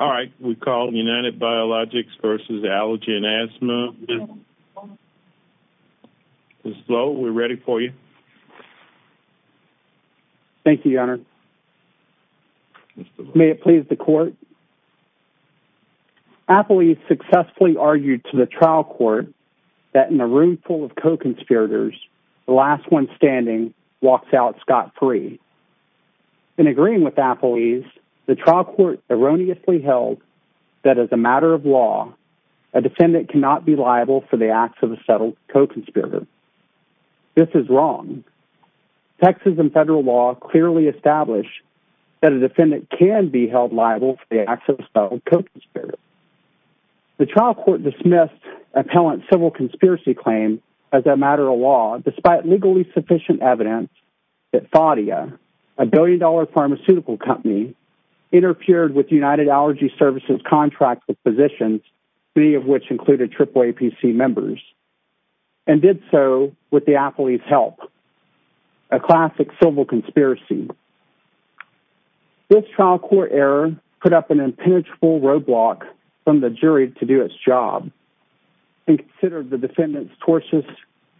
L.L.C. All right, we call United Biologics v. Allergy and Asthma. Ms. Lowe, we're ready for you. Thank you, your honor. May it please the court. Appley successfully argued to the trial court that in a room full of co-conspirators, the last one standing walks out scot-free. In agreeing with Appley, the trial court erroneously held that as a matter of law, a defendant cannot be liable for the acts of a settled co-conspirator. This is wrong. Texas and federal law clearly establish that a defendant can be held liable for the acts of a settled co-conspirator. The trial court dismissed appellant's civil conspiracy claim as a matter of law despite legally sufficient evidence that Faudia, a billion-dollar pharmaceutical company, interfered with United Allergy Services' contract with physicians, three of which included AAAP members, and did so with the appellee's help, a classic civil conspiracy. This trial court error put up an impenetrable roadblock from the jury to do its job and considered the defendant's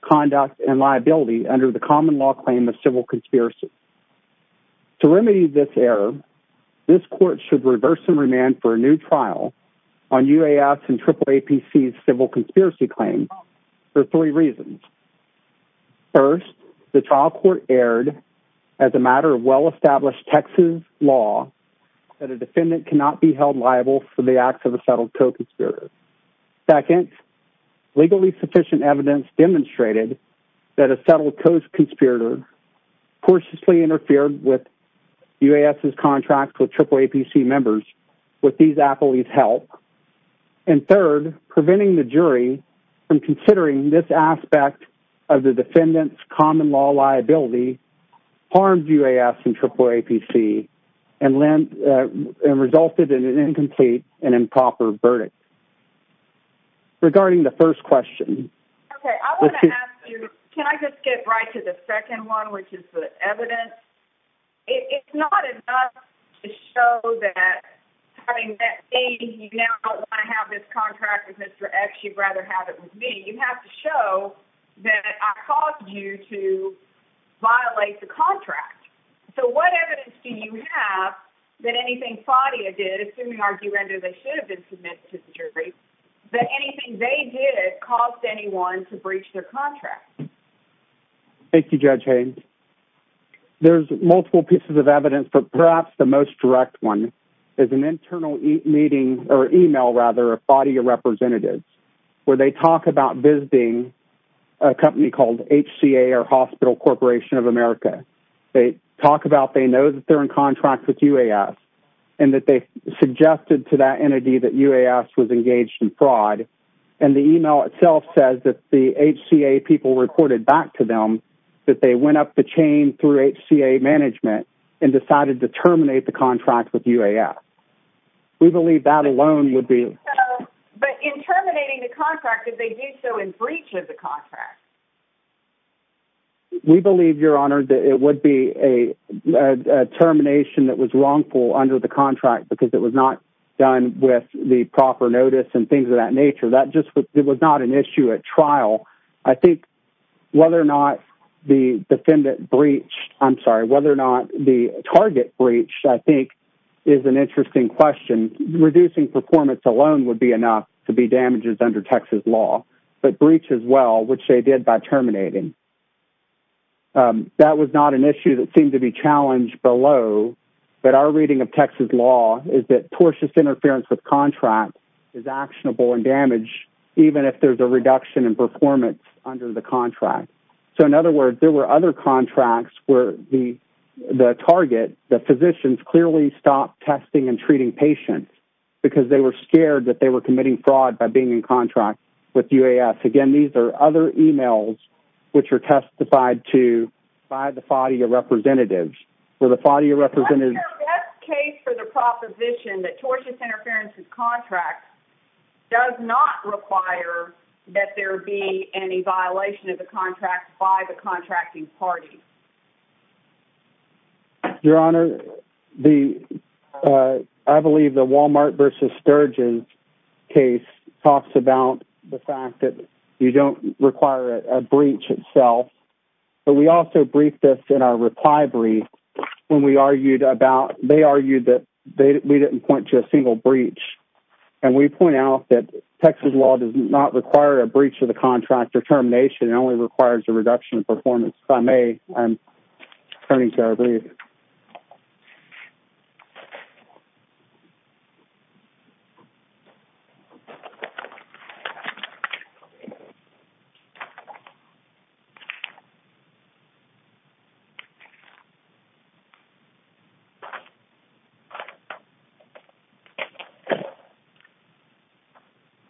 conduct and liability under the common law claim of civil conspiracy. To remedy this error, this court should reverse and remand for a new trial on UAS and AAAP's civil conspiracy claim for three reasons. First, the trial court erred as a matter of well-established Texas law that a defendant cannot be held liable for the acts of a settled co-conspirator. Second, legally sufficient evidence demonstrated that a settled co-conspirator cautiously interfered with UAS' contract with AAAP members with these appellee's help. And third, preventing the jury from considering this aspect of the defendant's common law liability harmed UAS and AAAP and resulted in an incomplete and improper verdict. Regarding the first question. Okay, I want to ask you, can I just get right to the second one, which is the evidence? It's not enough to show that having met me, you now don't want to have this contract with Mr. X, you'd rather have it with me. You have to show that I caused you to violate the contract. So what evidence do you have that anything FADIA did, assuming argumentative they should have been submitted to the jury, that anything they did caused anyone to breach their contract? Thank you, Judge Haynes. There's multiple pieces of evidence, but perhaps the most direct one is an internal meeting or email rather of FADIA representatives where they talk about visiting a company called HCA or Hospital Corporation of America. They talk about, they know that they're in contract with UAS and that they suggested to that entity that UAS was engaged in fraud. And the email itself says that the HCA people reported back to them that they went up the chain through HCA management and decided to terminate the contract because they did so in breach of the contract. We believe, Your Honor, that it would be a termination that was wrongful under the contract because it was not done with the proper notice and things of that nature. It was not an issue at trial. I think whether or not the defendant breached, I'm sorry, whether or not the target breached, I think is an interesting question. Reducing performance alone would be enough to be damages under Texas law, but breach as well, which they did by terminating. That was not an issue that seemed to be challenged below, but our reading of Texas law is that tortious interference with contract is actionable and damaged even if there's a reduction in performance under the contract. So in other words, there were other contracts where the target, the physicians clearly stopped testing and treating patients because they were scared that were committing fraud by being in contract with UAS. Again, these are other emails which are testified to by the body of representatives for the body of representatives. What is your best case for the proposition that tortious interference with contracts does not require that there be any violation of the contract by the contracting party? Your Honor, the, uh, I believe the Walmart versus Sturgeon case talks about the fact that you don't require a breach itself, but we also briefed us in our reply brief when we argued about, they argued that we didn't point to a single breach. And we point out that Texas law does not require a breach of the contract or termination. It only requires a reduction in performance. If I may, I'm turning to our brief.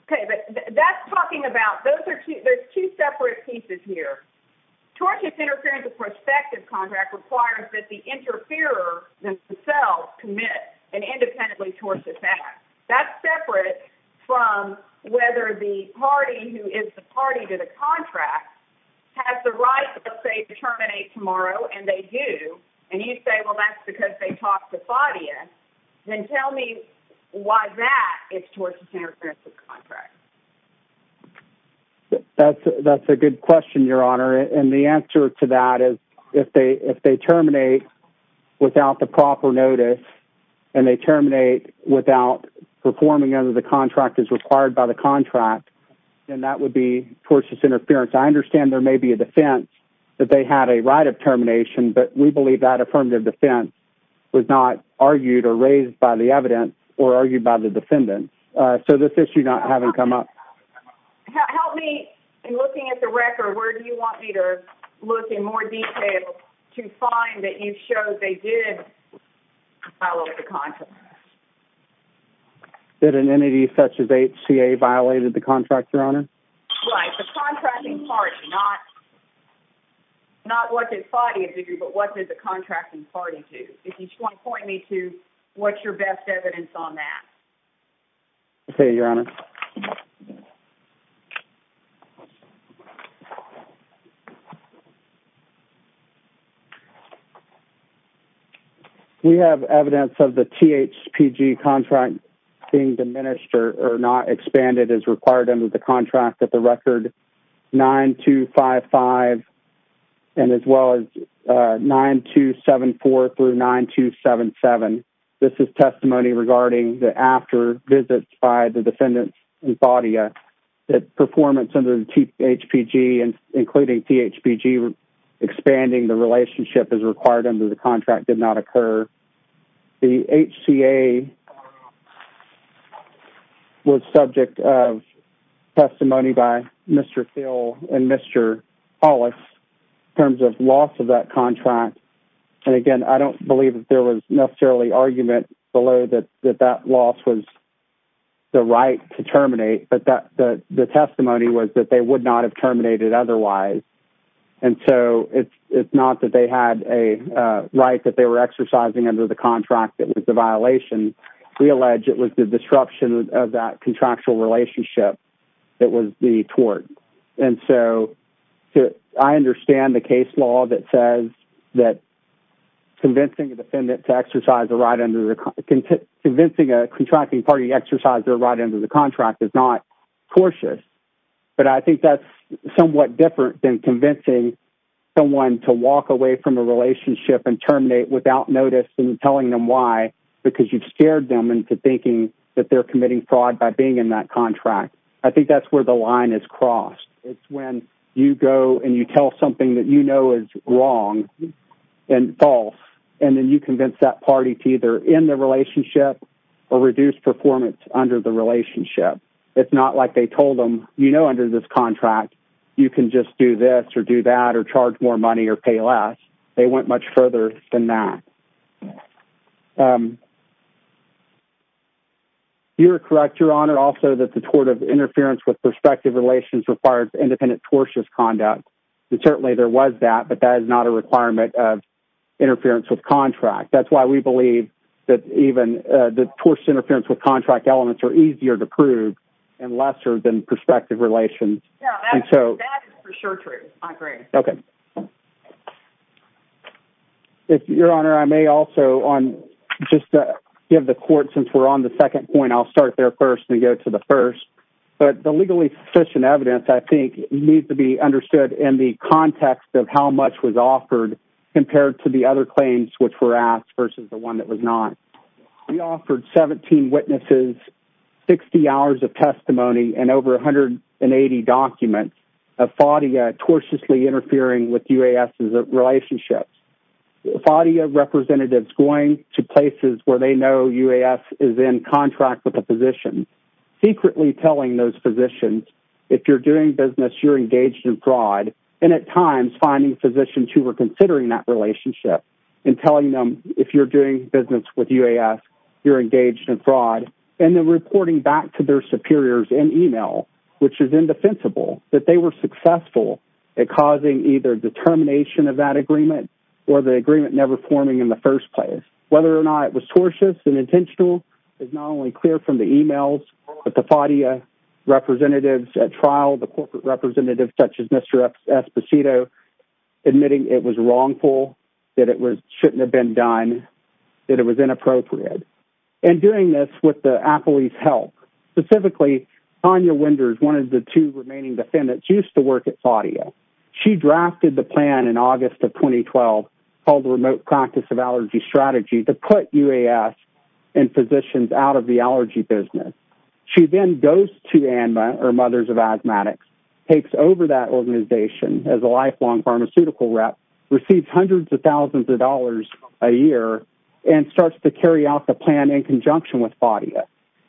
Okay. But that's talking about, those are two, there's two separate pieces here. Tortious interference perspective contract requires that the interferer themselves commit and independently towards the fact that's separate from whether the party who is the party to the contract has the right, let's say, to terminate tomorrow. And they do. And you say, well, that's because they talked to Fadia. Then tell me why that is towards the contract. That's, that's a good question, Your Honor. And the answer to that is if they, if they terminate without the proper notice and they terminate without performing under the contract is required by the contract, then that would be tortuous interference. I understand there may be a defense that they had a right of termination, but we believe that affirmative defense was not argued or raised by the evidence or argued by the defendant. So this issue not having come up. Help me in looking at the record, where do you want me to look in more detail to find that you showed they did follow the contract? Did an entity such as HCA violated the contract, Your Honor? Right. The contracting party, not, not what did Fadia do, but what did the contracting party do? If you want to point me to what's your best evidence on that? Okay, Your Honor. We have evidence of the THPG contract being diminished or not expanded as required under the contract at the record 9255 and as well as 9274 through 9277. This is testimony regarding the after visits by the defendant and Fadia that performance under the THPG and including THPG expanding the relationship as required under the contract did not occur. The HCA was subject of testimony by Mr. Phil and Mr. Hollis in terms of loss of that contract. And again, I don't believe that there was necessarily argument below that, that that loss was the right to terminate, but that the testimony was that they would not have terminated otherwise. And so it's, it's not that they had a right that they were exercising under the contract that was the violation. We allege it was the disruption of that contractual relationship that was the tort. And so I understand the case law that says that convincing a defendant to exercise a right under the contract, convincing a contracting party to exercise their right under the contract is not cautious, but I think that's somewhat different than convincing someone to walk away from a relationship and terminate without notice and telling them why, because you've scared them into thinking that they're committing fraud by being in that contract. I think that's where the line is crossed. It's when you go and you tell something that you know is wrong and false, and then you convince that party to either end the relationship or reduce performance under the relationship. It's not like they told them, you know, under this contract, you can just do this or do that or charge more money or pay less. They went much further than that. You're correct, Your Honor, also that the tort of interference with prospective relations requires independent tortious conduct. Certainly there was that, but that is not a requirement of interference with contract. That's why we believe that even the tortuous interference with contract elements are easier to prove and lesser than prospective relations. Your Honor, I may also, just to give the court, since we're on the second point, I'll start there first and go to the first, but the legally sufficient evidence, I think, needs to be understood in the context of how much was offered compared to the other claims which were asked versus the one that was not. We offered 17 witnesses, 60 hours of testimony, and over 180 documents of FADIA tortiously interfering with UAS's relationships. FADIA representatives going to places where they know UAS is in contract with a physician, secretly telling those physicians, if you're doing business, you're engaged in fraud, and at times finding physicians who are considering that relationship and telling them, if you're doing business with UAS, you're engaged in fraud, and then reporting back to their superiors in email, which is indefensible, that they were successful at causing either the termination of that agreement or the agreement never forming in the first place. Whether or not it was tortious and intentional is not only clear from the emails, but the FADIA representatives at trial, the corporate was wrongful, that it shouldn't have been done, that it was inappropriate. And doing this with the appellee's help. Specifically, Tanya Winders, one of the two remaining defendants, used to work at FADIA. She drafted the plan in August of 2012 called the Remote Practice of Allergy Strategy to put UAS and physicians out of the allergy business. She then goes to ANMA, or Mothers of Received hundreds of thousands of dollars a year and starts to carry out the plan in conjunction with FADIA,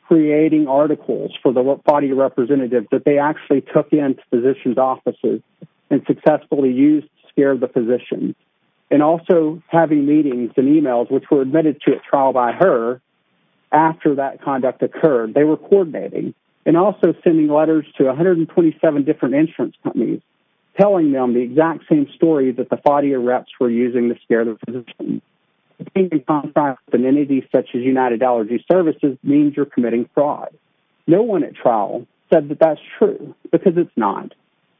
creating articles for the FADIA representative that they actually took into physicians' offices and successfully used to scare the physicians. And also having meetings and emails, which were admitted to at trial by her after that conduct occurred, they were coordinating. And also sending letters to 127 different insurance companies, telling them the exact same story that the FADIA reps were using to scare the physicians. Being in contact with an entity such as United Allergy Services means you're committing fraud. No one at trial said that that's true, because it's not.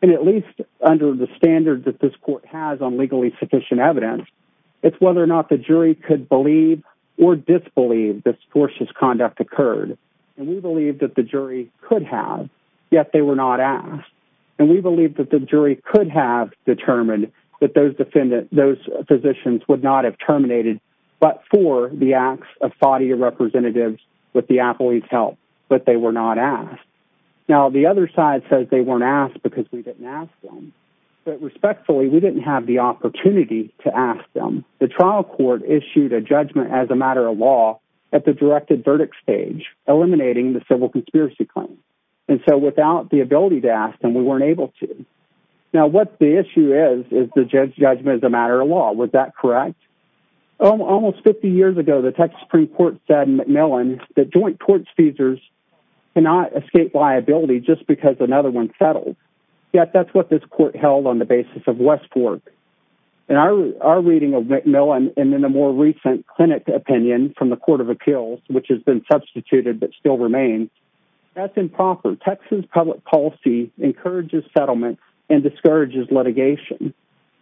And at least under the standard that this court has on legally sufficient evidence, it's whether or not the jury could believe or disbelieve this tortious conduct occurred. And we believe that the jury could have, yet they were not asked. And we believe that the jury could have determined that those physicians would not have terminated but for the acts of FADIA representatives with the athlete's help, but they were not asked. Now, the other side says they weren't asked because we didn't ask them. But respectfully, we didn't have the opportunity to ask them. The trial court issued a judgment as a matter of law at the directed verdict stage, eliminating the civil conspiracy claim. And so without the ability to ask them, we weren't able to. Now, what the issue is, is the judge's judgment as a matter of law. Was that correct? Almost 50 years ago, the Texas Supreme Court said in McMillan that joint tort feasors cannot escape liability just because another one settled. Yet that's what this court held on the basis of West Fork. In our reading of McMillan and in the more recent clinic opinion from the Court of Appeals, which has been substituted but still remains, that's improper. Texas public policy encourages settlement and discourages litigation.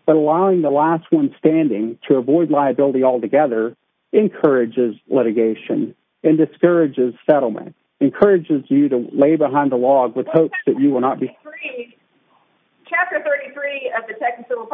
But allowing the last one standing to avoid liability altogether encourages litigation and discourages settlement. Encourages you to lay behind the log with hopes that you will not be- Chapter 33 of the Texas Civil Conspiracy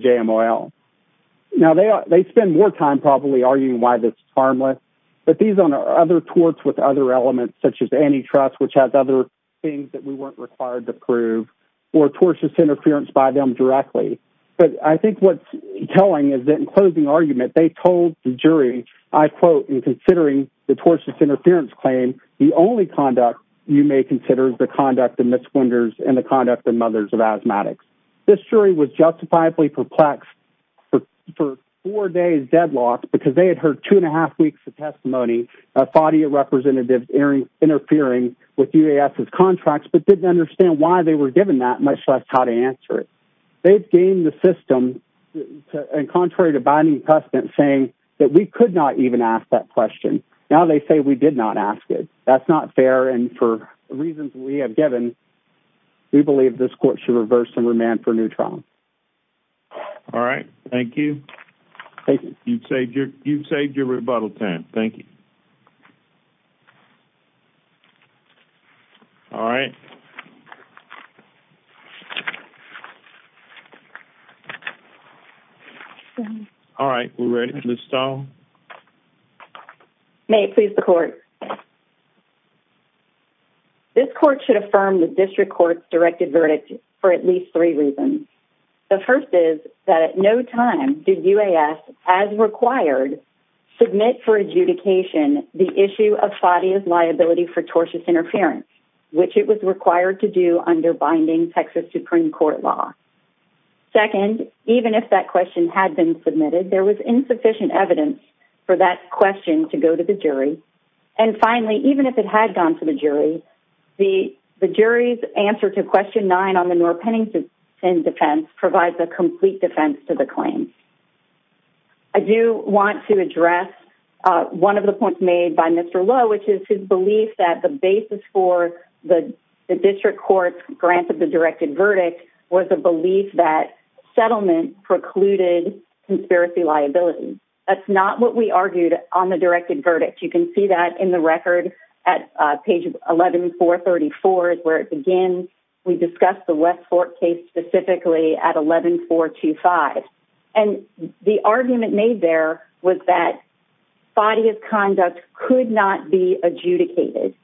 Claims.... harmless. But these are other torts with other elements, such as antitrust, which has other things that we weren't required to prove, or tortious interference by them directly. But I think what's telling is that in closing argument, they told the jury, I quote, in considering the tortious interference claim, the only conduct you may consider is the conduct of misconductors and the conduct of mothers of asthmatics. This jury was justifiably perplexed for four days deadlocked because they had heard two and a half weeks of testimony of FADIA representatives interfering with UAS's contracts, but didn't understand why they were given that, much less how to answer it. They've gamed the system, and contrary to binding precedent, saying that we could not even ask that question. Now they say we did not ask it. That's not fair, and for reasons we have given, we believe this court should reverse and remand for a new trial. All right. Thank you. You've saved your rebuttal time. Thank you. All right. All right. We're ready. Ms. Stone? May it please the court. This court should affirm the district court's directed verdict for at least three reasons. The first is that at no time did UAS, as required, submit for adjudication the issue of FADIA's liability for tortious interference, which it was required to do under binding Texas Supreme Court law. Second, even if that question had been submitted, there was insufficient evidence for that question to go to the jury. And finally, even if it had gone to the jury, the jury's answer to question nine on the Noor-Pennington defense provides a complete defense to the claim. I do want to address one of the points made by Mr. Lowe, which is his belief that the basis for the district court's grant of the directed verdict was a belief that settlement precluded conspiracy liability. That's not what we argued on the directed verdict. You can see that in the record at page 11-434 is where it begins. We discussed the West Fork case specifically at 11-425. And the argument made there was that FADIA's conduct could not be adjudicated.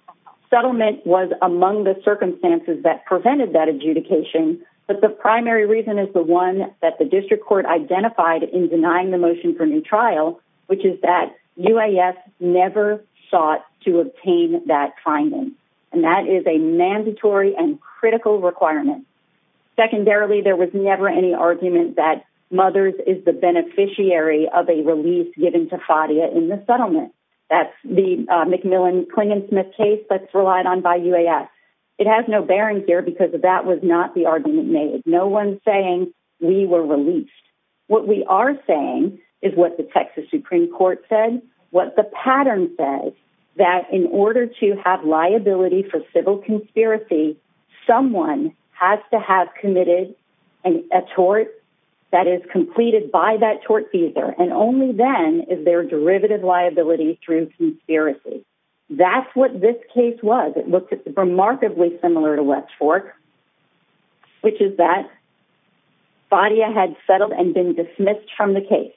Settlement was among the circumstances that prevented that adjudication, but the primary reason is the one that the district court identified in denying the motion for new trial, which is that UAS never sought to obtain that finding. And that is a mandatory and critical requirement. Secondarily, there was never any argument that Mothers is the beneficiary of a release given to FADIA in the settlement. That's the McMillan-Clinginsmith case that's relied on by UAS. It has no bearing here because that was not the argument made. No one's saying we were released. What we are saying is what the Texas Supreme Court said, what the pattern said, that in order to have liability for civil conspiracy, someone has to have committed a tort that is completed by that tortfeasor. And only then is there derivative liability through conspiracy. That's what this case was. It looked remarkably similar to West Fork, which is that FADIA had settled and been dismissed from the case.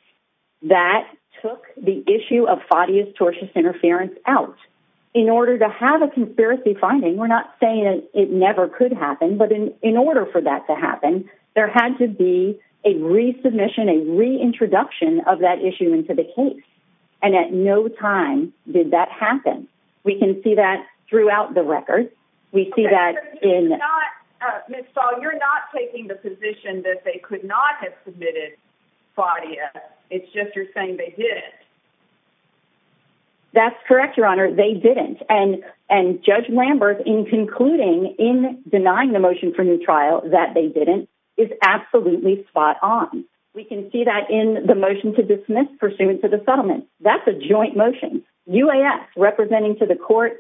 That took the issue of FADIA's tortious interference out. In order to have a conspiracy finding, we're not saying it never could happen, but in order for that to happen, there had to be a resubmission, a reintroduction of that issue into the case. And at no time did that happen. We can see that throughout the record. We see that in... Ms. Stahl, you're not taking the position that they could not have submitted FADIA. It's just you're saying they didn't. That's correct, Your Honor. They didn't. And Judge Lambert, in concluding, in denying the motion for new trial that they didn't, is absolutely spot on. We can see that in the motion to dismiss pursuant to the settlement. That's a joint motion. UAS representing to the court,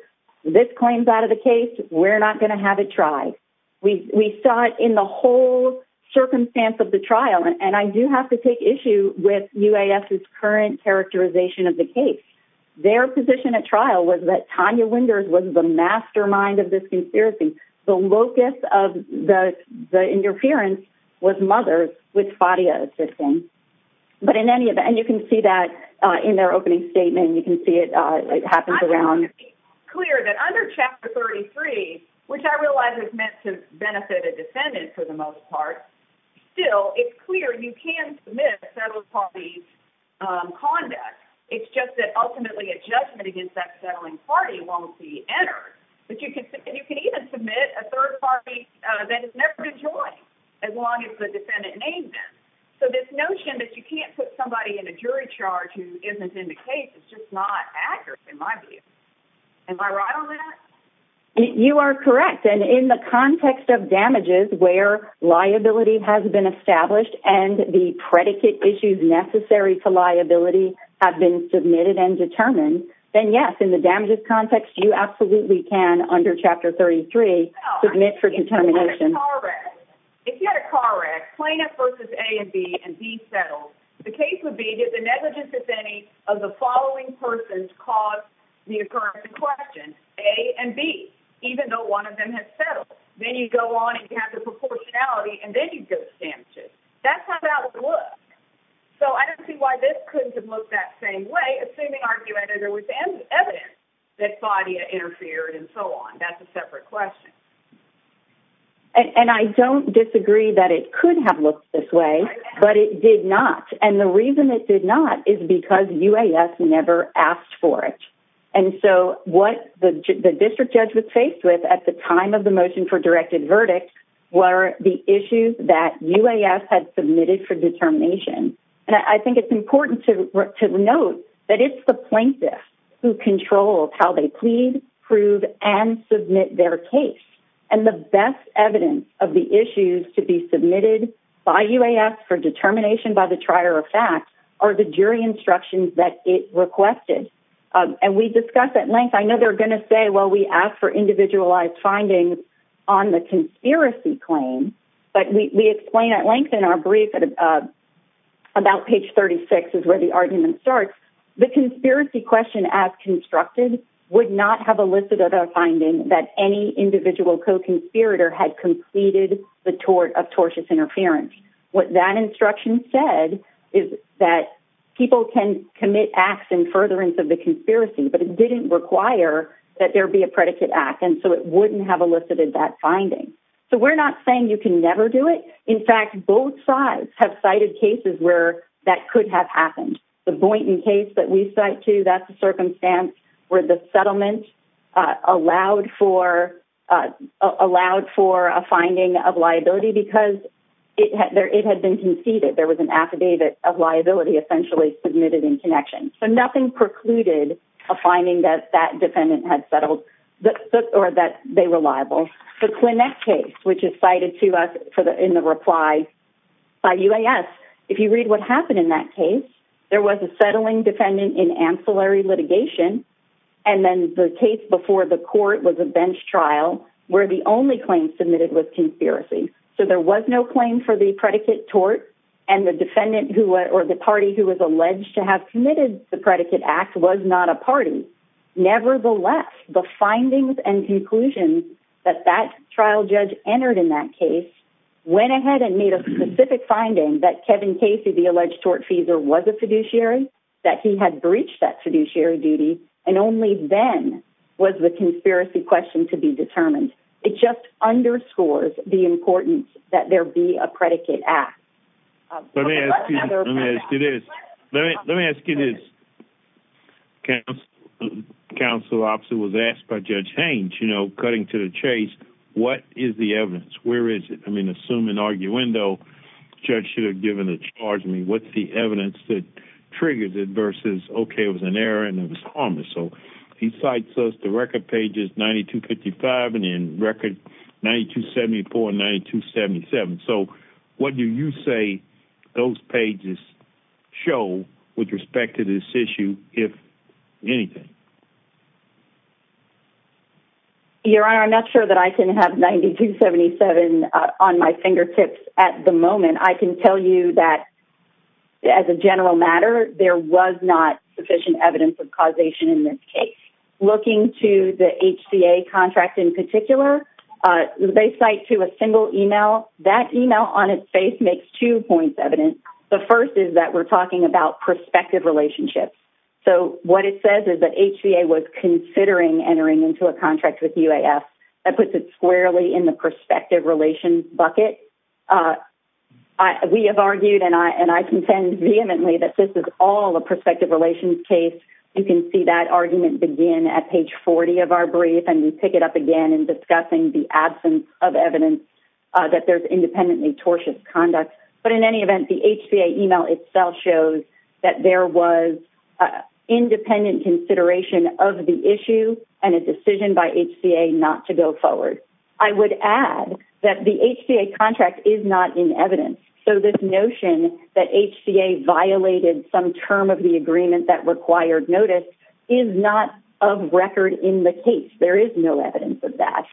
this claim's out of the case. We're not going to have it tried. We saw it in the whole circumstance of the trial. And I do have to take issue with UAS's current characterization of the case. Their position at trial was that Tanya Winders was the mastermind of this conspiracy. The locus of the interference was Mothers with FADIA assisting. But in any... You can see that in their opening statement. You can see it happens around... I just want to be clear that under Chapter 33, which I realize is meant to benefit a defendant for the most part, still it's clear you can submit a settled party's conduct. It's just that ultimately a judgment against that settling party won't be entered. And you can even submit a third party that has never been joined as long as the defendant names them. So this notion that you can't put somebody in a jury charge who isn't in the case is just not accurate in my view. Am I right on that? You are correct. And in the context of damages where liability has been established and the predicate issues necessary to liability have been submitted and determined, then yes, in the damages context, you absolutely can under Chapter 33 submit for determination. Correct. If you had a correct plaintiff versus A and B and B settled, the case would be that the negligence, if any, of the following persons caused the occurrence in question, A and B, even though one of them has settled. Then you go on and you have the proportionality and then you go to damages. That's how that would look. So I don't see why this couldn't have looked that same way, assuming, arguably, there was evidence that FADIA interfered and so on. That's a separate question. And I don't disagree that it could have looked this way, but it did not. And the reason it did not is because UAS never asked for it. And so what the district judge was faced with at the time of the motion for directed verdict were the issues that UAS had submitted for determination. And I think it's important to note that it's the plaintiffs who control how they plead, prove, and submit their case. And the best evidence of the issues to be submitted by UAS for determination by the trier of fact are the jury instructions that it requested. And we discussed at length, I know they're going to say, well, we asked for individualized findings on the conspiracy claim, but we explain at length in our brief about page 36 is where the argument starts. The conspiracy question as constructed would not have elicited a finding that any individual co-conspirator had completed the tort of tortious interference. What that instruction said is that people can commit acts in furtherance of the conspiracy, but it didn't require that there be a predicate act. And so it wouldn't have elicited that finding. So we're not saying you can never do it. In fact, both sides have cited cases where that could have happened. The Boynton case that we cite too, that's a circumstance where the settlement allowed for a finding of liability because it had been conceded. There was an affidavit of liability essentially submitted in connection. So nothing precluded a finding that that defendant had settled or that they were liable. The Clinette case, which is cited to us in the reply by UAS, if you read what happened in that case, there was a settling defendant in ancillary litigation. And then the case before the court was a bench trial where the only claim submitted was conspiracy. So there was no claim for the predicate tort and the defendant or the party who was alleged to have committed the predicate act was not a party. Nevertheless, the findings and conclusions that that trial judge entered in that case went ahead and made a specific finding that Kevin Casey, the alleged tortfeasor, was a fiduciary, that he had breached that fiduciary duty, and only then was the conspiracy question to be determined. It just underscores the importance that there be a predicate act. Let me ask you this. Let me ask you this. Counsel officer was asked by Judge Haines, you know, cutting to the chase, what is the evidence? Where is it? I mean, assume in arguendo judge should have given a charge. I mean, what's the evidence that triggers it versus, okay, it was an error and it was harmless. So he cites us to record pages 9255 and in record 9274 and 9277. So what do you say those pages show with respect to this issue, if anything? Your Honor, I'm not sure that I can have 9277 on my fingertips at the moment. I can tell you that as a general matter, there was not sufficient evidence of causation in this case. Looking to HCA contract in particular, they cite to a single email. That email on its face makes two points evident. The first is that we're talking about prospective relationships. So what it says is that HCA was considering entering into a contract with UAF. That puts it squarely in the prospective relations bucket. We have argued and I contend vehemently that this is all a prospective relations case. You can see that argument begin at page 40 of our brief and we pick it up again in discussing the absence of evidence that there's independently tortious conduct. But in any event, the HCA email itself shows that there was independent consideration of the issue and a decision by HCA not to go forward. I would add that the HCA contract is not in evidence. So this notion that HCA violated some term of the agreement that required notice is not of record in the case. There is no evidence of that.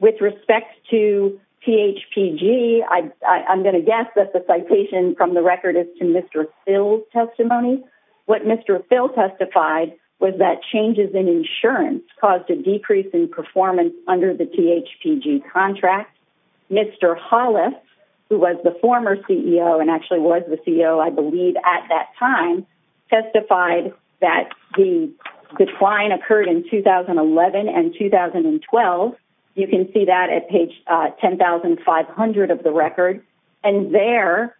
With respect to THPG, I'm going to guess that the citation from the record is to Mr. Phil's testimony. What Mr. Phil testified was that changes in insurance caused a decrease in performance under the THPG contract. Mr. Hollis, who was the former CEO and actually was the CEO I believe at that time, testified that the decline occurred in 2011 and 2012. You can see that at page 10,500 of the record. And there,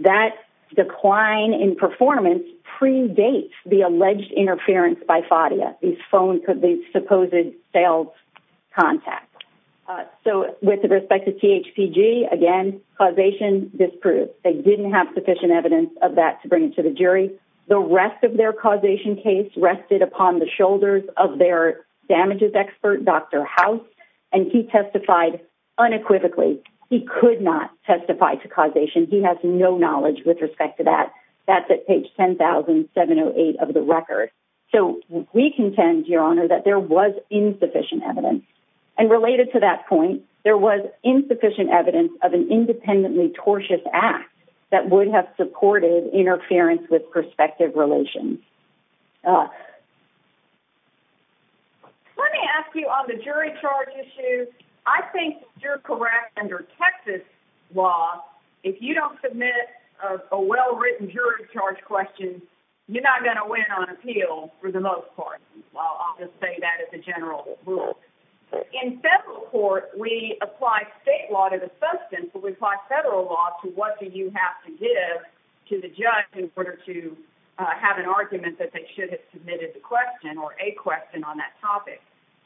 that decline in performance predates the alleged interference by FADIA, the supposed sales contact. So with respect to THPG, again, causation disproved. They didn't have sufficient evidence of that to bring it to the jury. The rest of their causation case rested upon the shoulders of their damages expert, Dr. House, and he testified unequivocally. He could not testify to causation. He has no knowledge with respect to that. That's at page 10,708 of the record. So we contend, Your Honor, that there was insufficient evidence. And related to that point, there was insufficient evidence of an independently tortious act that would have supported interference with prospective relations. Let me ask you on the jury charge issue, I think you're correct under Texas law, if you don't submit a well-written jury charge question, you're not going to win on appeal for the most part. I'll just say that as a general rule. In federal court, we apply state law to the substance, but we apply federal law to what do you have to give to the judge in order to have an argument that they should have submitted the question or a question on that topic.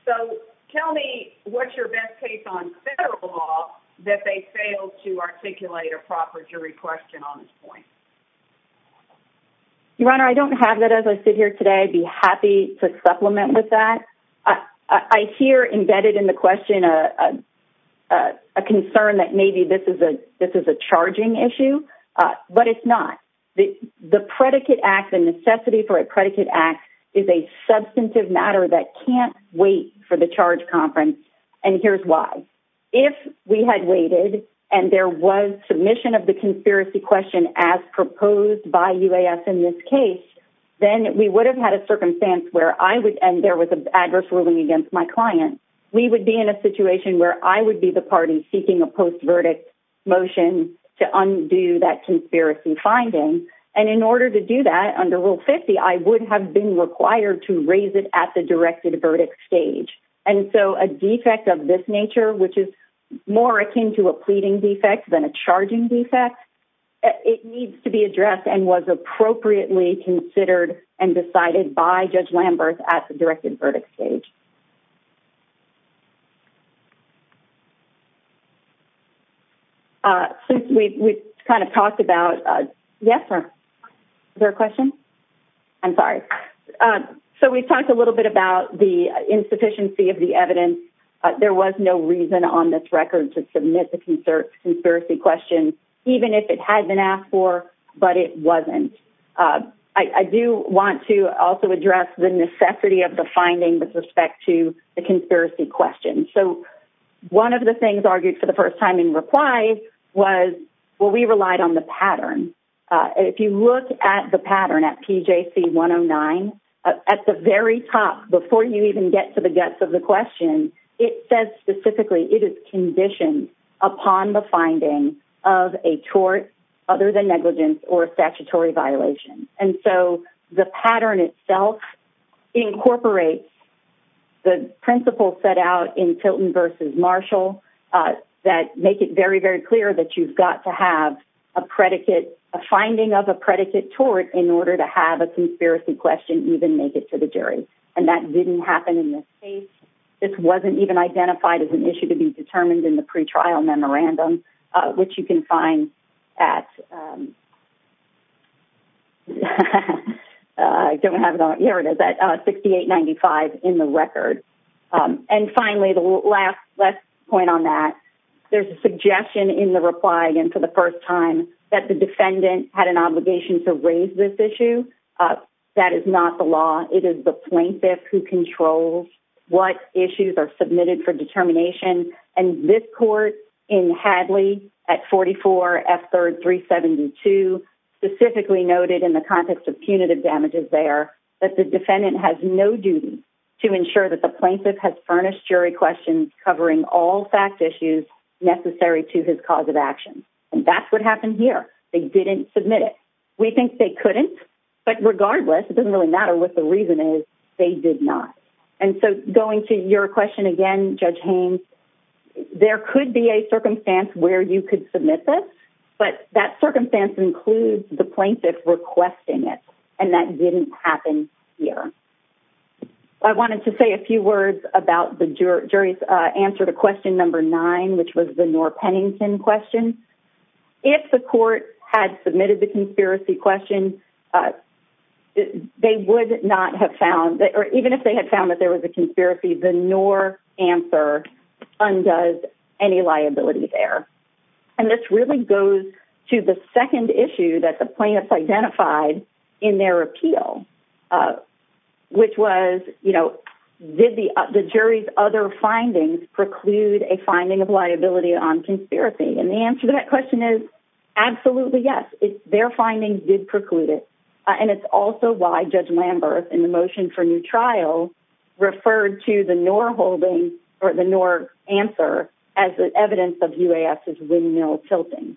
So tell me what's your best case on federal law that they failed to articulate a proper jury question on this point? Your Honor, I don't have that as I sit here today. I'd be happy to supplement with that. I hear embedded in the question a concern that maybe this is a charging issue, but it's not. The predicate act, the necessity for a predicate act is a substantive matter that can't wait for charge conference, and here's why. If we had waited and there was submission of the conspiracy question as proposed by UAS in this case, then we would have had a circumstance where I would, and there was an adverse ruling against my client, we would be in a situation where I would be the party seeking a post-verdict motion to undo that conspiracy finding, and in order to do that under Rule 50, I would have been required to raise it at the directed verdict stage. And so a defect of this nature, which is more akin to a pleading defect than a charging defect, it needs to be addressed and was appropriately considered and decided by Judge Lambert at the time. So we talked a little bit about the insufficiency of the evidence. There was no reason on this record to submit the conspiracy question, even if it had been asked for, but it wasn't. I do want to also address the necessity of the finding with respect to the conspiracy question. So one of the things argued for the first time in reply was, well, we relied on the pattern. If you look at the pattern at PJC 109, at the very top, before you even get to the guts of the question, it says specifically it is conditioned upon the finding of a tort other than negligence or a statutory violation. And so the pattern itself incorporates the principle set out in Tilton v. Marshall that make it very, very clear that you've got to have a predicate, a finding of a predicate tort in order to have a conspiracy question even make it to the jury. And that didn't happen in this case. This wasn't even identified as an issue to be determined in the pretrial memorandum, which you can find at 6895. And finally, the last point on that, there's a suggestion in the reply, again, for the first time, that the defendant had an obligation to raise this issue. That is not the law. It is the plaintiff who controls what issues are submitted for determination. And this court in Hadley at 44 F3rd 372 specifically noted in the context of punitive damages there that the defendant has no duty to ensure that the plaintiff has furnished jury questions covering all fact issues necessary to his cause of action. And that's what happened here. They didn't submit it. We think they couldn't. But regardless, it doesn't really matter what the reason is, they did not. And so going to your question again, Judge Haynes, there could be a circumstance where you could submit this. But that circumstance includes the plaintiff requesting it. And that didn't happen here. I wanted to say a few words about the jury's answer to question number nine, which was the Noor Pennington question. If the court had submitted the conspiracy question, they would not have found or even if they had found that there was a conspiracy, the Noor answer undoes any liability there. And this really goes to the second issue that the plaintiff identified in their appeal, which was, you know, did the jury's other findings preclude a finding of liability on conspiracy? And the answer to that question is absolutely yes. Their findings did and it's also why Judge Lambert, in the motion for new trial, referred to the Noor holding or the Noor answer as evidence of UAS's windmill tilting.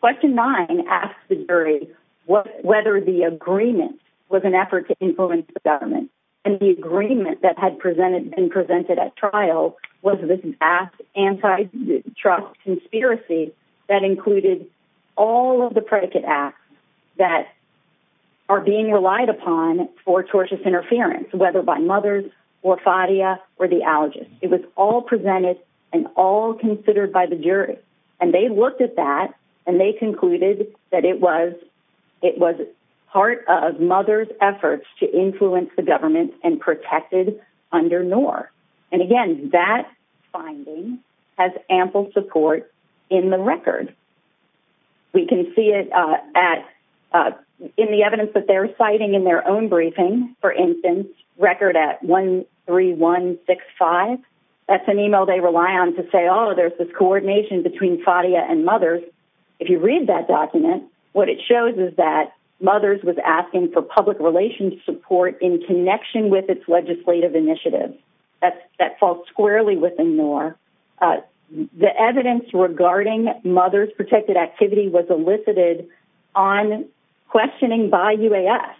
Question nine asked the jury whether the agreement was an effort to influence the government. And the agreement that had been presented at trial was this anti-trust conspiracy that included all of the predicate acts that are being relied upon for tortious interference, whether by mothers or Fadia or the allergist. It was all presented and all considered by the jury. And they looked at that and they concluded that it was part of mothers' efforts to influence the government and protected under Noor. And again, that finding has ample support in the record. We can see it in the evidence that they're citing in their own briefing, for instance, record at 13165. That's an email they rely on to say, there's this coordination between Fadia and mothers. If you read that document, what it shows is that mothers was asking for public relations support in connection with its legislative initiative. That falls squarely within Noor. The evidence regarding mothers' protected activity was elicited on questioning by UAS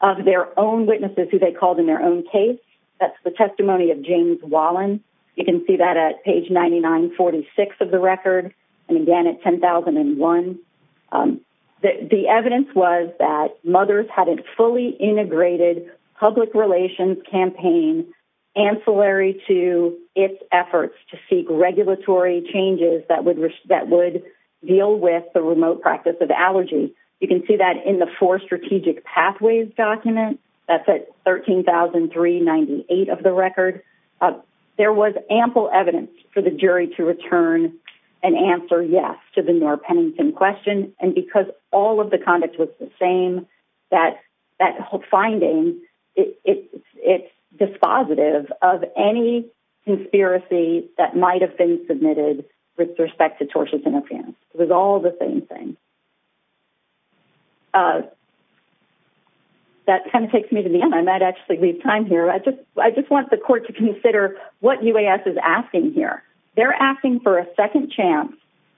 of their own witnesses who they called in their own case. That's the testimony of James Wallen. You can see that at page 9946 of the record and again at 10001. The evidence was that mothers had a fully integrated public relations campaign ancillary to its efforts to seek regulatory changes that would deal with the remote practice of allergy. You can see that in the four strategic pathways document. That's at 13398 of the record. There was ample evidence for the jury to return and answer yes to the Noor-Pennington question. And because all of the conduct was the same, that whole finding, it's dispositive of any conspiracy that might have been submitted with respect to tortious interference. I just want the court to consider what UAS is asking here. They're asking for a second chance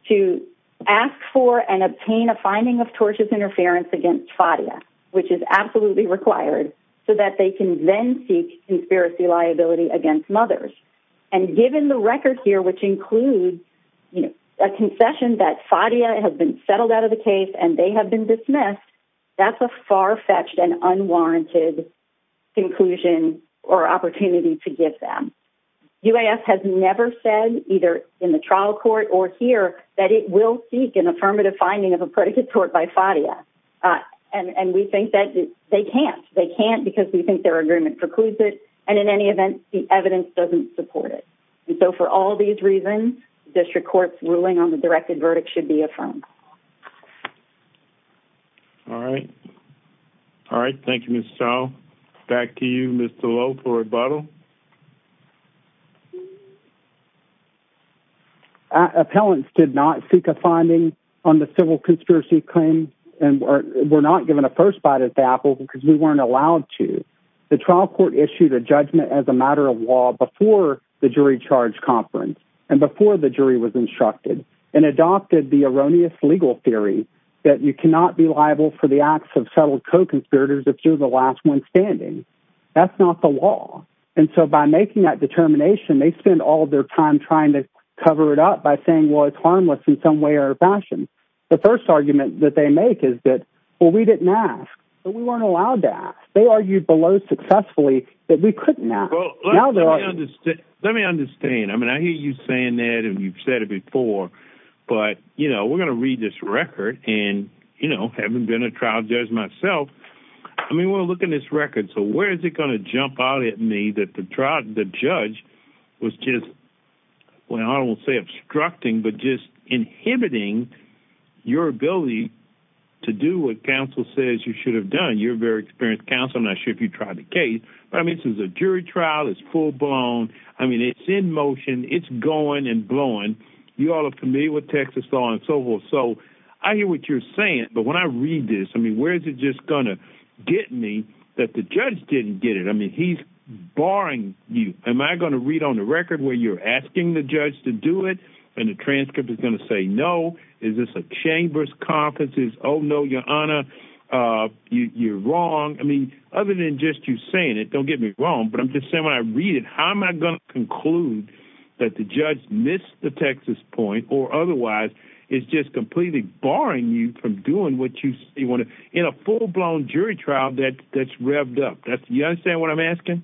to ask for and obtain a finding of tortious interference against Fadia which is absolutely required so that they can then seek conspiracy liability against mothers. And given the record here which includes a concession that Fadia has been settled out of the case and they have been dismissed, that's a far-fetched and unwarranted conclusion or opportunity to give them. UAS has never said either in the trial court or here that it will seek an affirmative finding of a predicate tort by Fadia. And we think that they can't. They can't because we think their agreement precludes it. And in any event, the evidence doesn't support it. And so for all these reasons, district court's ruling on the directed verdict should be affirmed. All right. All right. Thank you, Ms. Stahl. Back to you, Mr. Lowe, for rebuttal. Appellants did not seek a finding on the civil conspiracy claim and were not given a first bite at the apple because we weren't allowed to. The trial court issued a judgment as a matter of law before the jury charge conference and before the jury was instructed and adopted the erroneous legal theory that you cannot be liable for the acts of settled co-conspirators if you're the last one standing. That's not the law. And so by making that determination, they spend all their time trying to cover it up by saying, well, it's harmless in some way or fashion. The first argument that they make is that, well, we didn't ask, but we weren't allowed to ask. They argued below successfully that we couldn't ask. Let me understand. I mean, I hear you saying that you've said it before, but, you know, we're going to read this record and, you know, having been a trial judge myself, I mean, we'll look at this record. So where is it going to jump out at me that the trial, the judge was just, well, I don't want to say obstructing, but just inhibiting your ability to do what counsel says you should have done. You're a very experienced counsel. I'm not sure if you tried the case, but I mean, this is a jury trial. It's full blown. I mean, it's in motion, it's going and blowing. You all are familiar with Texas law and so forth. So I hear what you're saying, but when I read this, I mean, where's it just gonna get me that the judge didn't get it. I mean, he's barring you. Am I going to read on the record where you're asking the judge to do it and the transcript is going to say, no, is this a chambers conferences? Oh no, your honor. Uh, you you're wrong. I mean, other than just you saying it, don't get me wrong, but I'm just saying when I read it, how am I going to conclude that the judge missed the Texas point or otherwise it's just completely barring you from doing what you want to in a full blown jury trial that that's revved up. That's what I'm asking.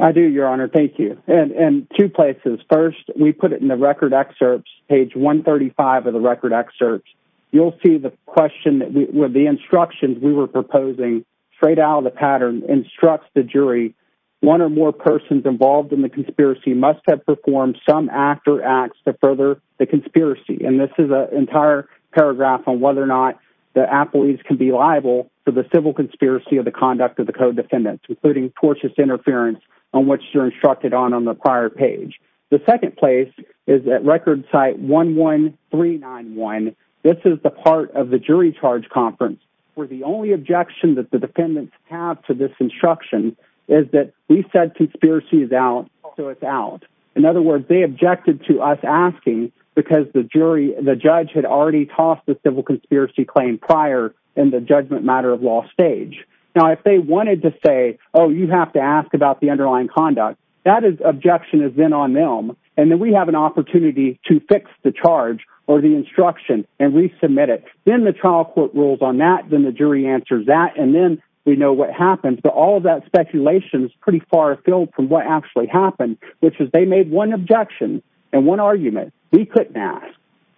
I do your honor. Thank you. And two places. First, we put it in the record excerpts, page one 35 of the record excerpts. You'll see the question where the instructions we were proposing straight out of the pattern instructs the jury. One or more persons involved in the conspiracy must have performed some act or acts to further the conspiracy. And this is a entire paragraph on whether or not the appellees can be liable for the civil conspiracy of the conduct of the co-defendants, including tortious interference on which you're instructed on, on the prior page. The second place is that record site one one three nine one. This is the part of the jury charge conference where the only objection that the defendants have to this instruction is that we said conspiracy is out. So it's out. In other words, they objected to us asking because the jury, the judge had already tossed the civil conspiracy claim prior in the judgment matter of law stage. Now, if they wanted to say, oh, you have to ask about the underlying conduct that is objection has been on them. And then we have an opportunity to fix the charge or the instruction and resubmit it. Then the trial court rules on that. Then the jury answers that. And then we know what happens. But all of that speculation is pretty far afield from what actually happened, which is they made one objection and one argument. We couldn't ask.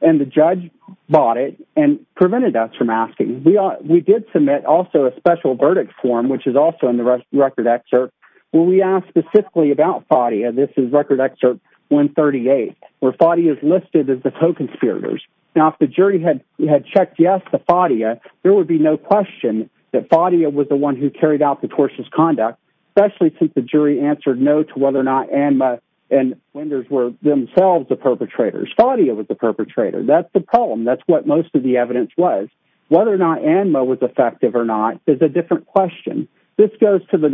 And the judge bought it and prevented us from asking. We are. We did submit also a special verdict form, which is also in the record excerpt where we asked specifically about body. And this is record excerpt one thirty eight, where Fadi is listed as the co-conspirators. Now, if the jury had had checked, yes, the body, there would be no question that Fadi was the one who carried out the tortious conduct, especially since the jury answered no to whether or not Emma and Wenders were themselves the perpetrators. Fadi was the perpetrator. That's the problem. That's what most of the evidence was. Whether or not Emma was effective or not is a different question. This goes to the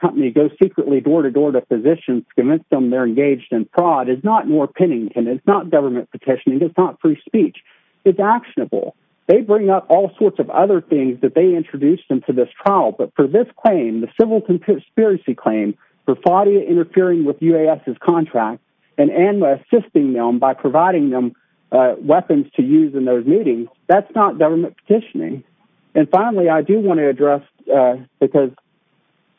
company goes secretly door to door to physicians to convince them they're engaged in fraud is not more pinning. And it's not government petitioning. It's not free speech. It's actionable. They bring up all sorts of other things that they introduced into this trial. But for this claim, the civil conspiracy claim for Fadi interfering with U.S. contract and endless assisting them by providing them weapons to use in those meetings, that's not government petitioning. And finally, I do want to address, because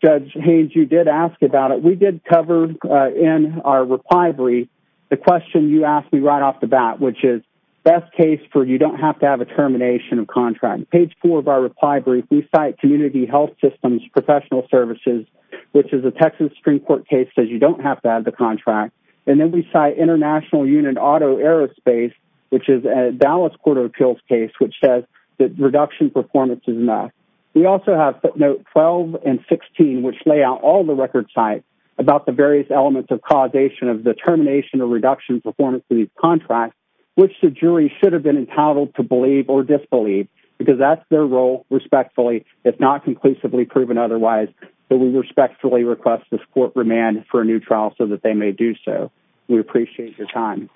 Judge Haynes, you did ask about it. We did cover in our reply brief, the question you asked me right off the bat, which is best case for you don't have to have a termination of contract. Page four of our reply brief, we cite community health systems, professional services, which is a Texas Supreme Court case says you don't have to have the contract. And then we cite international unit auto aerospace, which is a Dallas court of appeals case, which says that reduction performance is not. We also have footnote 12 and 16, which lay out all the record sites about the various elements of causation of the termination or reduction performance of these contracts, which the jury should have been entitled to believe or disbelieve because that's their role respectfully, if not conclusively proven otherwise, that we respectfully request this court remand for a new trial so that they may do so. We appreciate your time.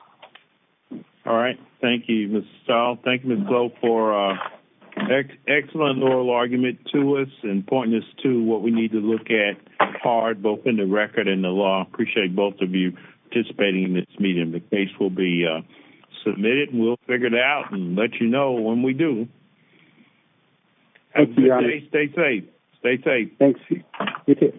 All right. Thank you, Mr. Stahl. Thank you for excellent oral argument to us and pointing us to what we need to look at hard, both in the record and the law. Appreciate both of you participating in this meeting. The case will be submitted and we'll figure it out and let you know when we do. Thank you. Stay safe. Stay safe. Thanks.